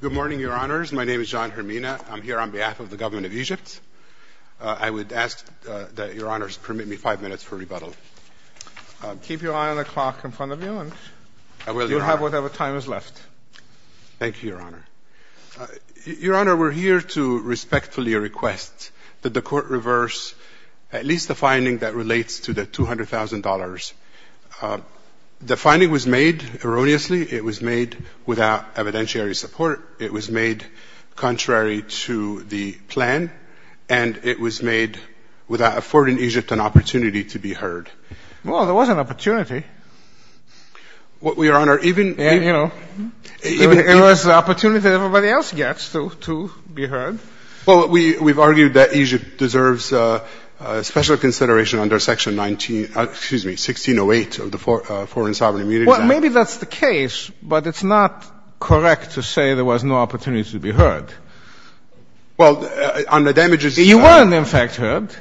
Good morning, Your Honors. My name is John Hermina. I'm here on behalf of the government of Egypt. I would ask that Your Honors permit me five minutes for rebuttal. Keep your eye on the clock in front of you, and you'll have whatever time is left. Thank you, Your Honor. Your Honor, we're here to respectfully request that the Court reverse at least the finding that relates to the $200,000. The finding was made erroneously. It was made without evidentiary support. It was made contrary to the plan, and it was made without affording Egypt an opportunity to be heard. Well, there was an opportunity. Well, Your Honor, even... You know, it was an opportunity that everybody else gets to be heard. Well, we've argued that Egypt deserves special consideration under Section 19, excuse me, 1608 of the Foreign Sovereign Immunities Act. Well, maybe that's the case, but it's not correct to say there was no opportunity to be heard. Well, on the damages... You were, in fact, heard,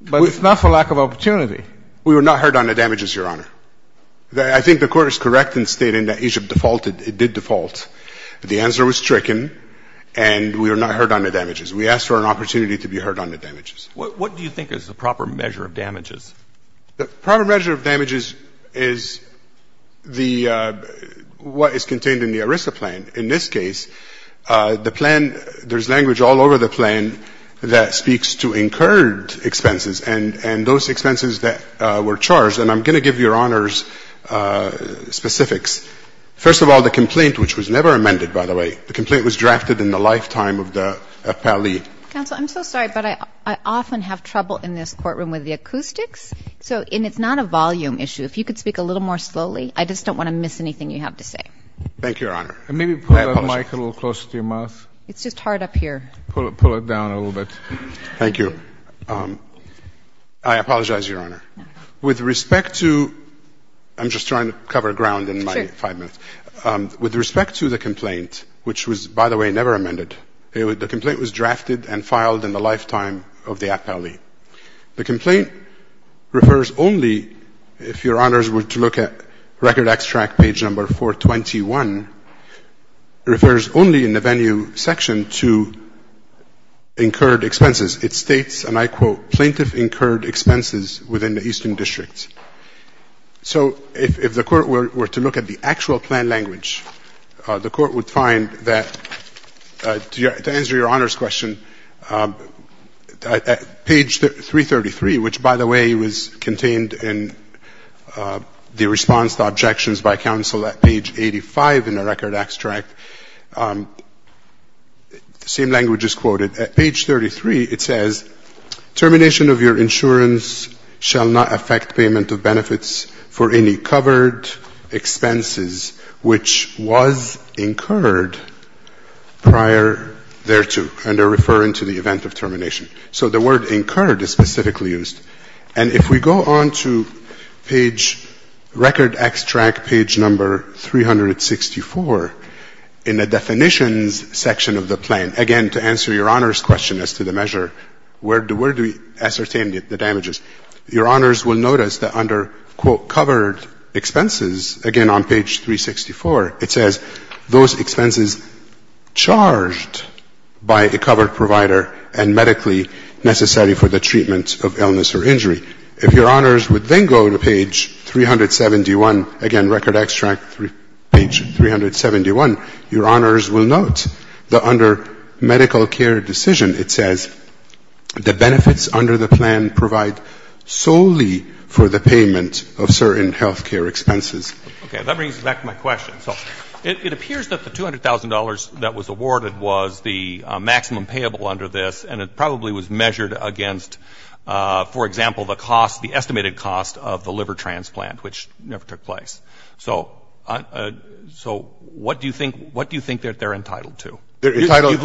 but it's not for lack of opportunity. We were not heard on the damages, Your Honor. I think the Court is correct in stating that Egypt defaulted. It did default. The answer was stricken, and we were not heard on the damages. We asked for an opportunity to be heard on the damages. What do you think is the proper measure of damages? The proper measure of damages is the — what is contained in the ERISA plan. In this case, the plan — there's language all over the plan that speaks to incurred expenses and those expenses that were charged, and I'm going to give Your Honor's specifics. First of all, the complaint, which was never amended, by the way, the complaint was drafted in the lifetime of the appellee. Counsel, I'm so sorry, but I often have trouble in this courtroom with the acoustics, and it's not a volume issue. If you could speak a little more slowly, I just don't want to miss anything you have to say. Thank you, Your Honor. And maybe put the mic a little closer to your mouth. It's just hard up here. Pull it down a little bit. Thank you. I apologize, Your Honor. With respect to — I'm just trying to cover ground in my — Sure. With respect to the complaint, which was, by the way, never amended, the complaint was drafted and filed in the lifetime of the appellee. The complaint refers only, if Your Honors were to look at record extract page number 421, refers only in the venue section to incurred expenses. It states, and I quote, plaintiff incurred expenses within the Eastern District. So if the Court were to look at the actual plan language, the Court would find that to answer Your Honor's question, page 333, which, by the way, was contained in the response to objections by counsel at page 85 in the record extract, the same language is quoted. At page 33, it says, termination of your insurance shall not affect payment of benefits for any covered expenses which was incurred prior thereto. And they're referring to the event of termination. So the word incurred is specifically used. And if we go on to page — record extract page number 364 in the definitions section of the plan, again, to answer Your Honor's question as to the measure, where do we ascertain the damages? Your Honors will notice that under, quote, covered expenses, again, on page 364, it says those expenses charged by a covered provider and medically necessary for the treatment of illness or injury. If Your Honors would then go to page 371, again, record extract page 371, Your Honors will note that under medical care decision, it says the benefits under the plan provide solely for the payment of certain health care expenses. Okay. That brings me back to my question. So it appears that the $200,000 that was awarded was the maximum payable under this, and it probably was measured against, for example, the cost, the estimated cost, of the liver transplant, which never took place. So what do you think they're entitled to? You've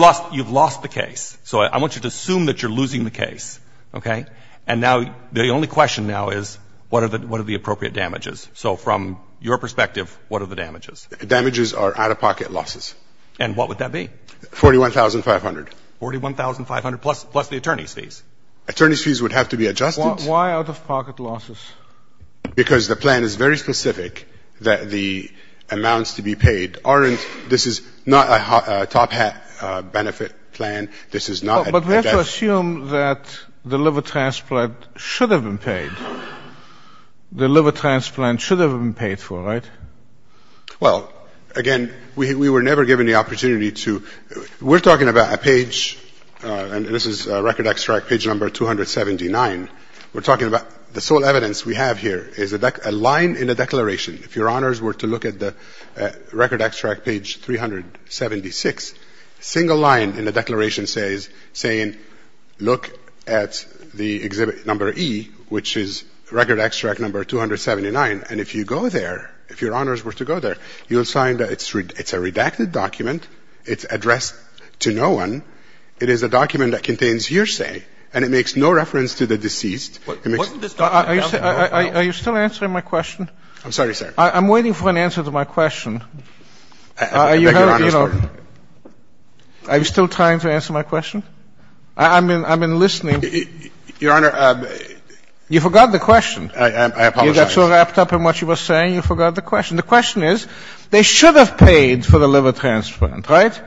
lost the case. So I want you to assume that you're losing the case, okay? And now the only question now is what are the appropriate damages? So from your perspective, what are the damages? The damages are out-of-pocket losses. And what would that be? $41,500. $41,500 plus the attorney's fees? Attorney's fees would have to be adjusted. Why out-of-pocket losses? Because the plan is very specific that the amounts to be paid aren't, this is not a top-hat benefit plan. This is not. But we have to assume that the liver transplant should have been paid. The liver transplant should have been paid for, right? Well, again, we were never given the opportunity to. We're talking about a page, and this is record extract page number 279. We're talking about the sole evidence we have here is a line in the declaration. If Your Honors were to look at the record extract page 376, a single line in the declaration says, saying, look at the exhibit number E, which is record extract number 279. And if you go there, if Your Honors were to go there, you'll find that it's a redacted document. It's addressed to no one. It is a document that contains hearsay, and it makes no reference to the deceased. It makes no reference to the deceased. Are you still answering my question? I'm sorry, sir. I'm waiting for an answer to my question. I beg Your Honor's pardon. Are you still trying to answer my question? I've been listening. Your Honor. You forgot the question. I apologize. You got so wrapped up in what you were saying, you forgot the question. The question is, they should have paid for the liver transplant, right?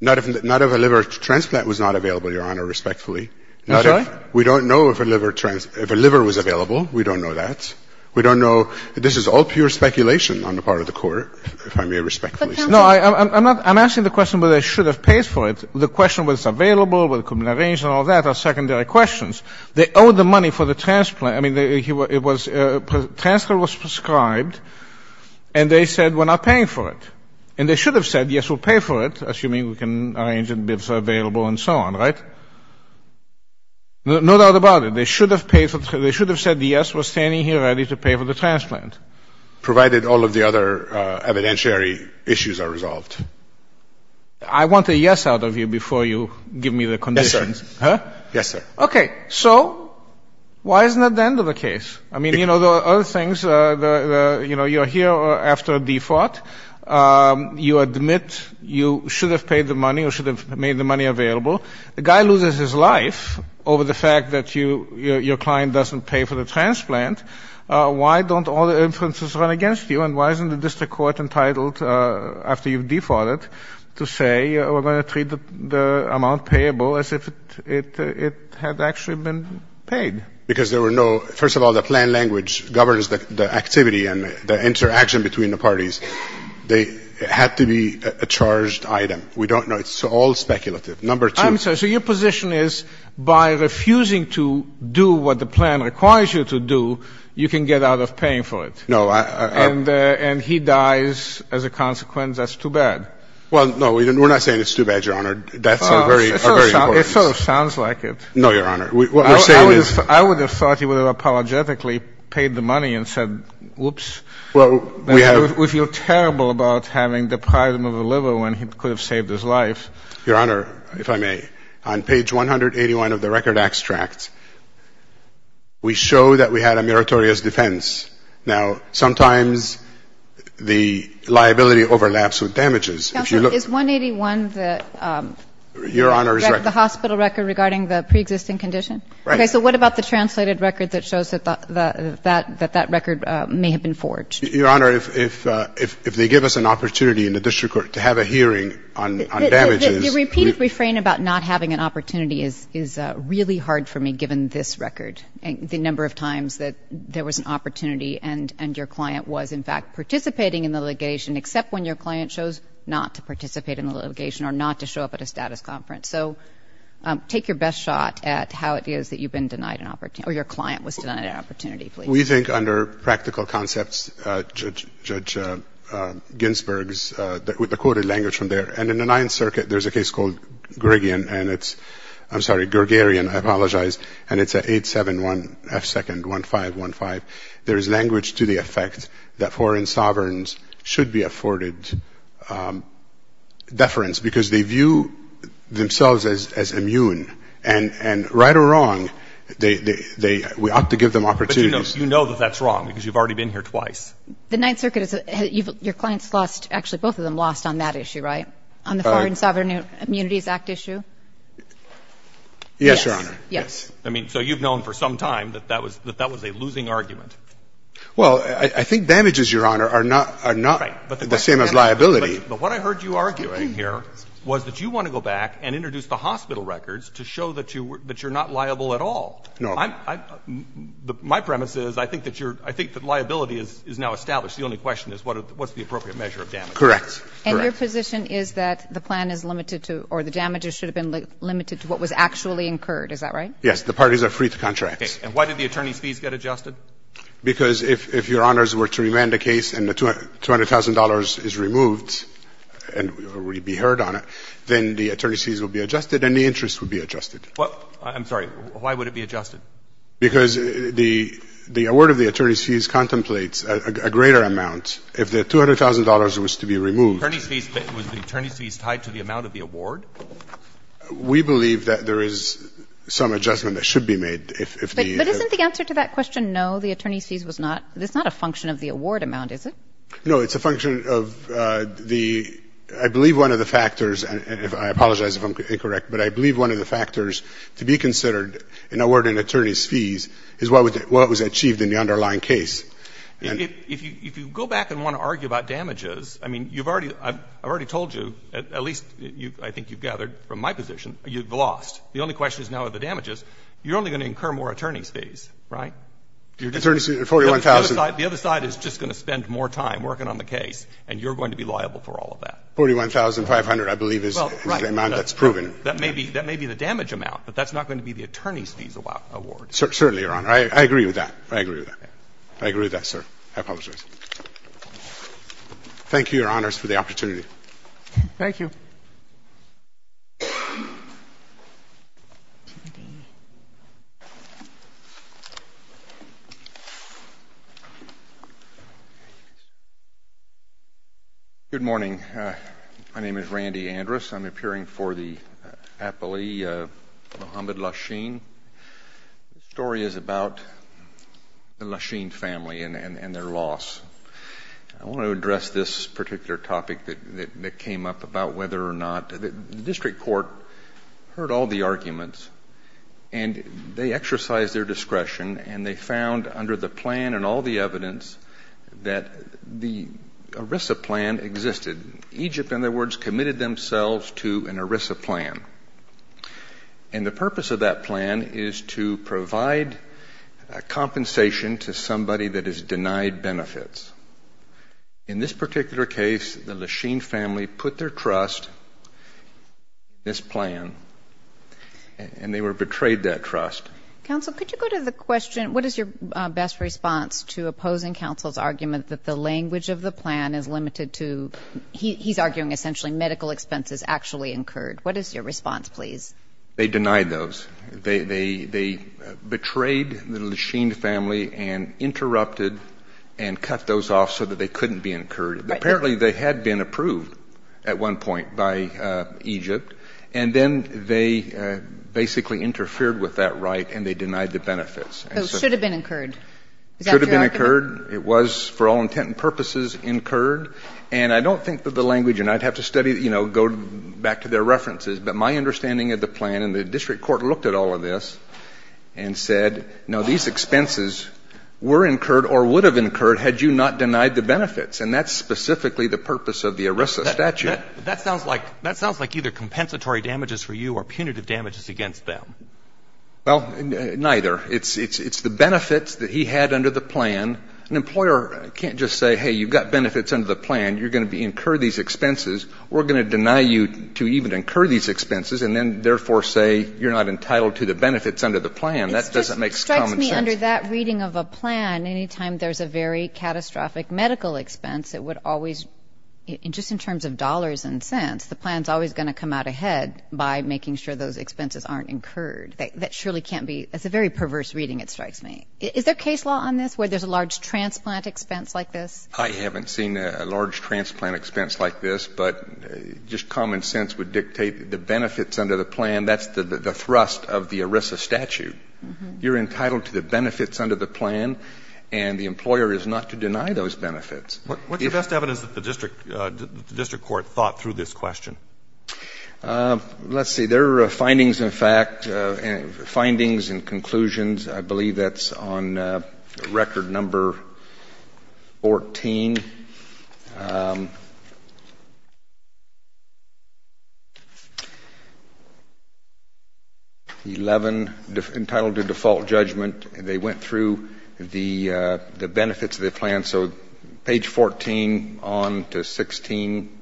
Not if a liver transplant was not available, Your Honor, respectfully. We don't know if a liver was available. We don't know that. We don't know. This is all pure speculation on the part of the Court, if I may respectfully say. No, I'm not. I'm asking the question whether they should have paid for it. The question whether it's available, whether it could have been arranged and all that are secondary questions. They owe the money for the transplant. I mean, the transfer was prescribed, and they said we're not paying for it. And they should have said, yes, we'll pay for it, assuming we can arrange it and it's available and so on, right? No doubt about it. They should have said the yes was standing here ready to pay for the transplant. Provided all of the other evidentiary issues are resolved. I want a yes out of you before you give me the conditions. Yes, sir. Huh? Yes, sir. Okay. So why isn't that the end of the case? I mean, you know, the other things, you know, you're here after a default. You admit you should have paid the money or should have made the money available. The guy loses his life over the fact that your client doesn't pay for the transplant. Why don't all the inferences run against you? And why isn't the district court entitled, after you've defaulted, to say we're going to treat the amount payable as if it had actually been paid? Because there were no, first of all, the plan language governs the activity and the interaction between the parties. They had to be a charged item. We don't know. It's all speculative. Number two. I'm sorry. So your position is by refusing to do what the plan requires you to do, you can get out of paying for it? No. And he dies as a consequence. That's too bad. Well, no, we're not saying it's too bad, Your Honor. Deaths are very important. It sort of sounds like it. No, Your Honor. What we're saying is ---- I would have thought he would have apologetically paid the money and said, whoops. Well, we have ---- We feel terrible about having deprived him of a liver when he could have saved his life. Your Honor, if I may, on page 181 of the record extract, we show that we had a meritorious defense. Now, sometimes the liability overlaps with damages. Counselor, is 181 the ---- Your Honor's record. Is that the hospital record regarding the preexisting condition? Right. Okay. So what about the translated record that shows that that record may have been forged? Your Honor, if they give us an opportunity in the district court to have a hearing on damages ---- Your repeated refrain about not having an opportunity is really hard for me, given this record, the number of times that there was an opportunity and your client was, in fact, participating in the litigation, except when your client chose not to participate in the litigation or not to show up at a status conference. So take your best shot at how it is that you've been denied an opportunity or your client was denied an opportunity, please. We think under practical concepts, Judge Ginsburg's, with the quoted language from there, and in the Ninth Circuit, there's a case called Gregion and it's ---- I'm sorry, Gregarion. I apologize. And it's at 871-F2-1515. There is language to the effect that foreign sovereigns should be afforded deference because they view themselves as immune. And right or wrong, they ---- we ought to give them opportunities. But you know that that's wrong because you've already been here twice. The Ninth Circuit is a ---- your clients lost, actually both of them lost on that issue, right, on the Foreign Sovereign Immunities Act issue? Yes, Your Honor. Yes. I mean, so you've known for some time that that was a losing argument. Well, I think damages, Your Honor, are not the same as liability. But what I heard you arguing here was that you want to go back and introduce the hospital records to show that you're not liable at all. No. My premise is I think that you're ---- I think that liability is now established. The only question is what's the appropriate measure of damage. Correct. And your position is that the plan is limited to or the damages should have been limited to what was actually incurred. Is that right? Yes. The parties are free to contract. And why did the attorneys' fees get adjusted? Because if your honors were to remand a case and the $200,000 is removed and be heard on it, then the attorneys' fees will be adjusted and the interest will be adjusted. I'm sorry. Why would it be adjusted? Because the award of the attorneys' fees contemplates a greater amount. If the $200,000 was to be removed ---- Was the attorneys' fees tied to the amount of the award? We believe that there is some adjustment that should be made if the ---- But isn't the answer to that question, no, the attorneys' fees was not ---- It's not a function of the award amount, is it? No. It's a function of the ---- I believe one of the factors, and I apologize if I'm incorrect, but I believe one of the factors to be considered in awarding attorneys' fees is what was achieved in the underlying case. If you go back and want to argue about damages, I mean, you've already ---- I've already told you, at least I think you've gathered from my position, you've lost. The only question is now are the damages. You're only going to incur more attorneys' fees, right? The attorneys' fees are $41,000. The other side is just going to spend more time working on the case, and you're going to be liable for all of that. $41,500, I believe, is the amount that's proven. That may be the damage amount, but that's not going to be the attorneys' fees award. Certainly, Your Honor. I agree with that. I agree with that. I agree with that, sir. I apologize. Thank you, Your Honors, for the opportunity. Thank you. Thank you. Good morning. My name is Randy Andrus. I'm appearing for the appellee, Muhammad Lasheen. The story is about the Lasheen family and their loss. I want to address this particular topic that came up about whether or not the district court heard all the arguments, and they exercised their discretion, and they found under the plan and all the evidence that the ERISA plan existed. Egypt, in other words, committed themselves to an ERISA plan. And the purpose of that plan is to provide compensation to somebody that is In this particular case, the Lasheen family put their trust in this plan, and they were betrayed that trust. Counsel, could you go to the question, what is your best response to opposing counsel's argument that the language of the plan is limited to he's arguing essentially medical expenses actually incurred? What is your response, please? They denied those. They betrayed the Lasheen family and interrupted and cut those off so that they couldn't be incurred. Apparently they had been approved at one point by Egypt, and then they basically interfered with that right and they denied the benefits. So it should have been incurred. It should have been incurred. It was, for all intent and purposes, incurred. And I don't think that the language, and I'd have to study, you know, go back to their references, but my understanding of the plan and the district court looked at all of this and said, no, these expenses were incurred or would have incurred had you not denied the benefits. And that's specifically the purpose of the ERISA statute. That sounds like either compensatory damages for you or punitive damages against them. Well, neither. It's the benefits that he had under the plan. An employer can't just say, hey, you've got benefits under the plan. You're going to incur these expenses. We're going to deny you to even incur these expenses and then, therefore, say you're not entitled to the benefits under the plan. That doesn't make common sense. It strikes me under that reading of a plan, any time there's a very catastrophic medical expense, it would always, just in terms of dollars and cents, the plan's always going to come out ahead by making sure those expenses aren't incurred. That surely can't be. That's a very perverse reading, it strikes me. Is there case law on this where there's a large transplant expense like this? I haven't seen a large transplant expense like this, but just common sense would dictate that the benefits under the plan, that's the thrust of the ERISA statute. You're entitled to the benefits under the plan, and the employer is not to deny those benefits. What's the best evidence that the district court thought through this question? Let's see. There are findings, in fact, findings and conclusions. I believe that's on record number 14. 11, entitled to default judgment. They went through the benefits of the plan, so page 14 on to 16.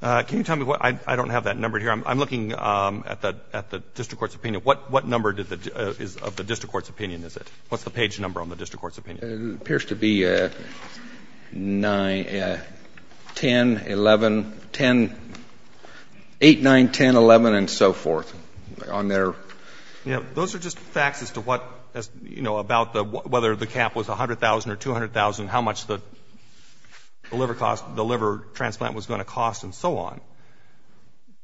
Can you tell me, I don't have that numbered here. I'm looking at the district court's opinion. What number of the district court's opinion is it? What's the page number on the district court's opinion? It appears to be 10, 11, 10, 8, 9, 10, 11, and so forth on there. Those are just facts as to what, you know, about whether the cap was $100,000 or $200,000, how much the liver cost, the liver transplant was going to cost and so on.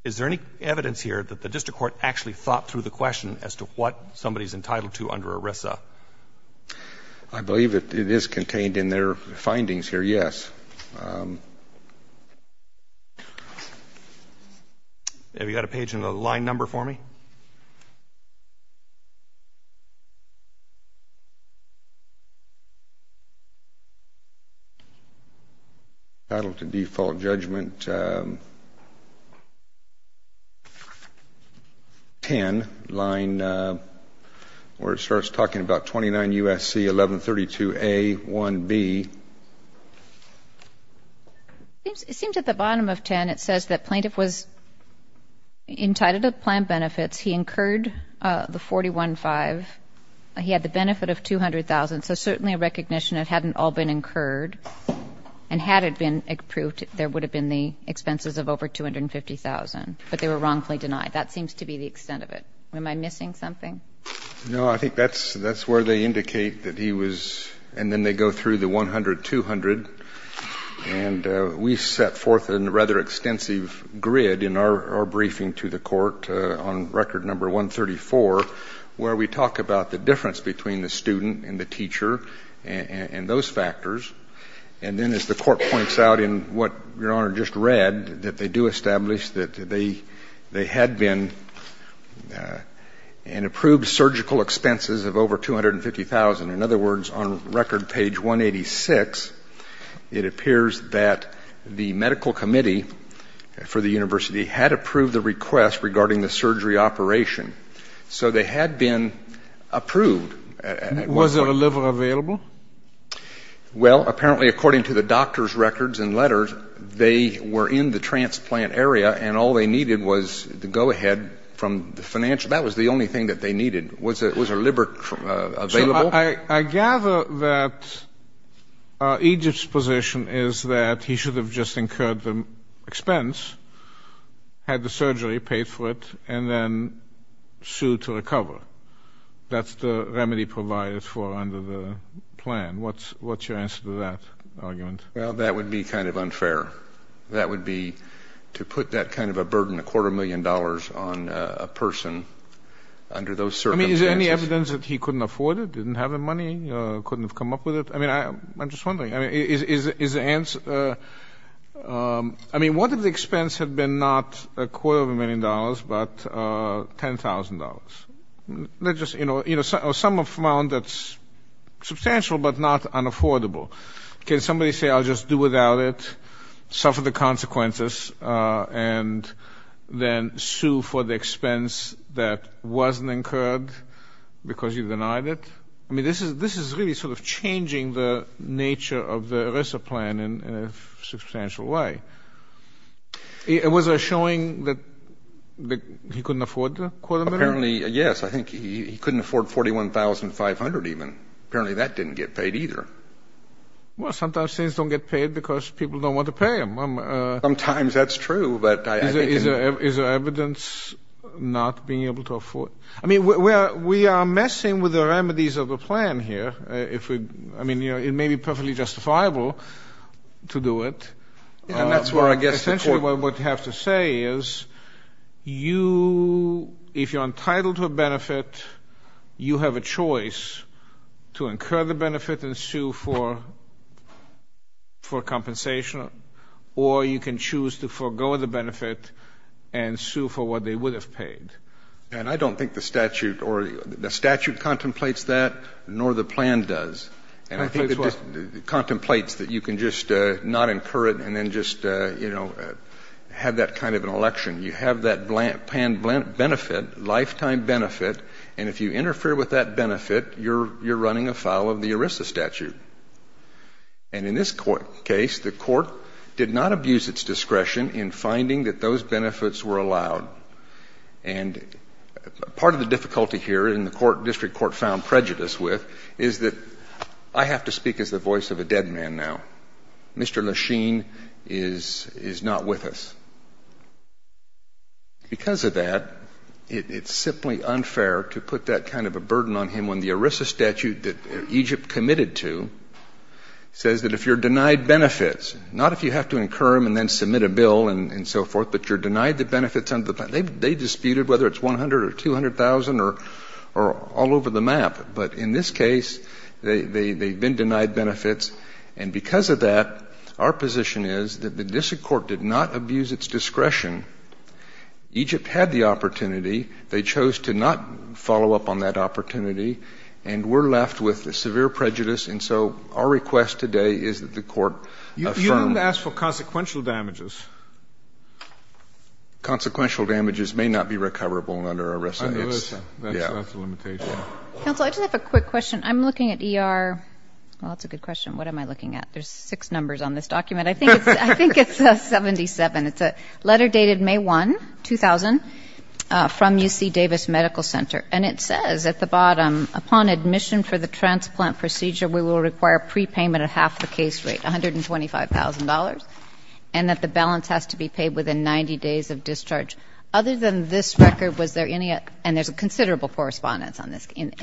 Is there any evidence here that the district court actually thought through the question as to what somebody is entitled to under ERISA? I believe it is contained in their findings here, yes. Have you got a page and a line number for me? Entitled to default judgment 10, line where it starts talking about 29 USC, 1132A, 1B. It seems at the bottom of 10 it says that plaintiff was entitled to plan benefits. He incurred the $41,500. He had the benefit of $200,000. So certainly a recognition it hadn't all been incurred. And had it been approved, there would have been the expenses of over $250,000. But they were wrongfully denied. That seems to be the extent of it. Am I missing something? No. I think that's where they indicate that he was, and then they go through the $100,000, And we set forth a rather extensive grid in our briefing to the Court on record number 134 where we talk about the difference between the student and the teacher and those factors. And then as the Court points out in what Your Honor just read, that they do establish that they had been and approved surgical expenses of over $250,000. In other words, on record page 186, it appears that the medical committee for the university had approved the request regarding the surgery operation. So they had been approved. Was there a liver available? Well, apparently according to the doctor's records and letters, they were in the transplant area, and all they needed was the go-ahead from the financial. That was the only thing that they needed. Was a liver available? I gather that Egypt's position is that he should have just incurred the expense, had the surgery, paid for it, and then sued to recover. That's the remedy provided for under the plan. What's your answer to that argument? Well, that would be kind of unfair. That would be to put that kind of a burden, a quarter million dollars on a person under those circumstances. Is there any evidence that he couldn't afford it, didn't have the money, couldn't have come up with it? I mean, I'm just wondering. I mean, what if the expense had been not a quarter of a million dollars, but $10,000? You know, some have found that's substantial but not unaffordable. Can somebody say, I'll just do without it, suffer the consequences, and then sue for the expense that wasn't incurred because you denied it? I mean, this is really sort of changing the nature of the ERISA plan in a substantial way. Was there showing that he couldn't afford the quarter million? Apparently, yes. I think he couldn't afford $41,500 even. Apparently, that didn't get paid either. Well, sometimes things don't get paid because people don't want to pay them. Sometimes that's true. Is there evidence not being able to afford it? I mean, we are messing with the remedies of the plan here. I mean, it may be perfectly justifiable to do it. And that's where I guess the court would have to say is, if you're entitled to a benefit, you have a choice to incur the benefit and sue for compensation, or you can choose to forego the benefit and sue for what they would have paid. And I don't think the statute or the statute contemplates that, nor the plan does. And I think it contemplates that you can just not incur it and then just, you know, have that kind of an election. You have that plan benefit, lifetime benefit, and if you interfere with that benefit, you're running afoul of the ERISA statute. And in this case, the court did not abuse its discretion in finding that those benefits were allowed. And part of the difficulty here, and the district court found prejudice with, is that I have to speak as the voice of a dead man now. Mr. Lesheen is not with us. Because of that, it's simply unfair to put that kind of a burden on him when the ERISA statute that Egypt committed to says that if you're denied benefits, not if you have to incur them and then submit a bill and so forth, but you're denied the benefits under the plan. They disputed whether it's $100,000 or $200,000 or all over the map. But in this case, they've been denied benefits. And because of that, our position is that the district court did not abuse its discretion. Egypt had the opportunity. They chose to not follow up on that opportunity. And we're left with severe prejudice. And so our request today is that the court affirm. You don't have to ask for consequential damages. Consequential damages may not be recoverable under ERISA. Under ERISA. That's a limitation. Counsel, I just have a quick question. I'm looking at ER. Well, that's a good question. What am I looking at? There's six numbers on this document. I think it's a 77. It's a letter dated May 1, 2000, from UC Davis Medical Center. And it says at the bottom, upon admission for the transplant procedure, we will require prepayment of half the case rate, $125,000, and that the balance has to be paid within 90 days of discharge. Other than this record, was there any other? And there's a considerable correspondence in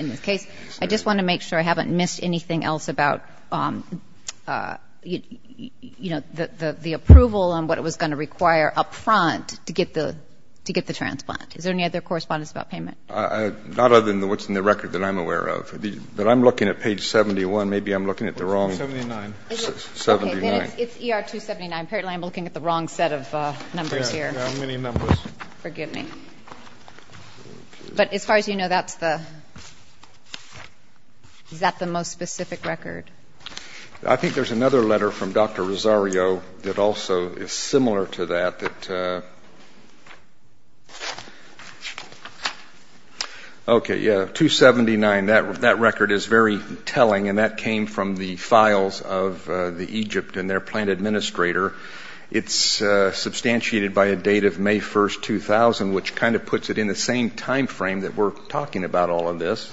this case. I just want to make sure I haven't missed anything else about, you know, the approval and what it was going to require up front to get the transplant. Is there any other correspondence about payment? Not other than what's in the record that I'm aware of. But I'm looking at page 71. Maybe I'm looking at the wrong. 79. 79. It's ER 279. Apparently I'm looking at the wrong set of numbers here. There are many numbers. Forgive me. But as far as you know, that's the ‑‑ is that the most specific record? I think there's another letter from Dr. Rosario that also is similar to that. Okay. Yeah. 279. That record is very telling, and that came from the files of the Egypt and their plant administrator. It's substantiated by a date of May 1st, 2000, which kind of puts it in the same timeframe that we're talking about all of this.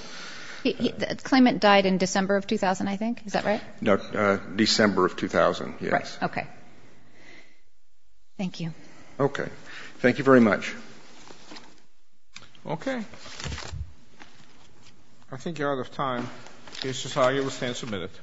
The claimant died in December of 2000, I think. Is that right? No, December of 2000, yes. Right. Okay. Thank you. Okay. Thank you very much. Okay. I think you're out of time. Mr. Rosario will stand for a minute.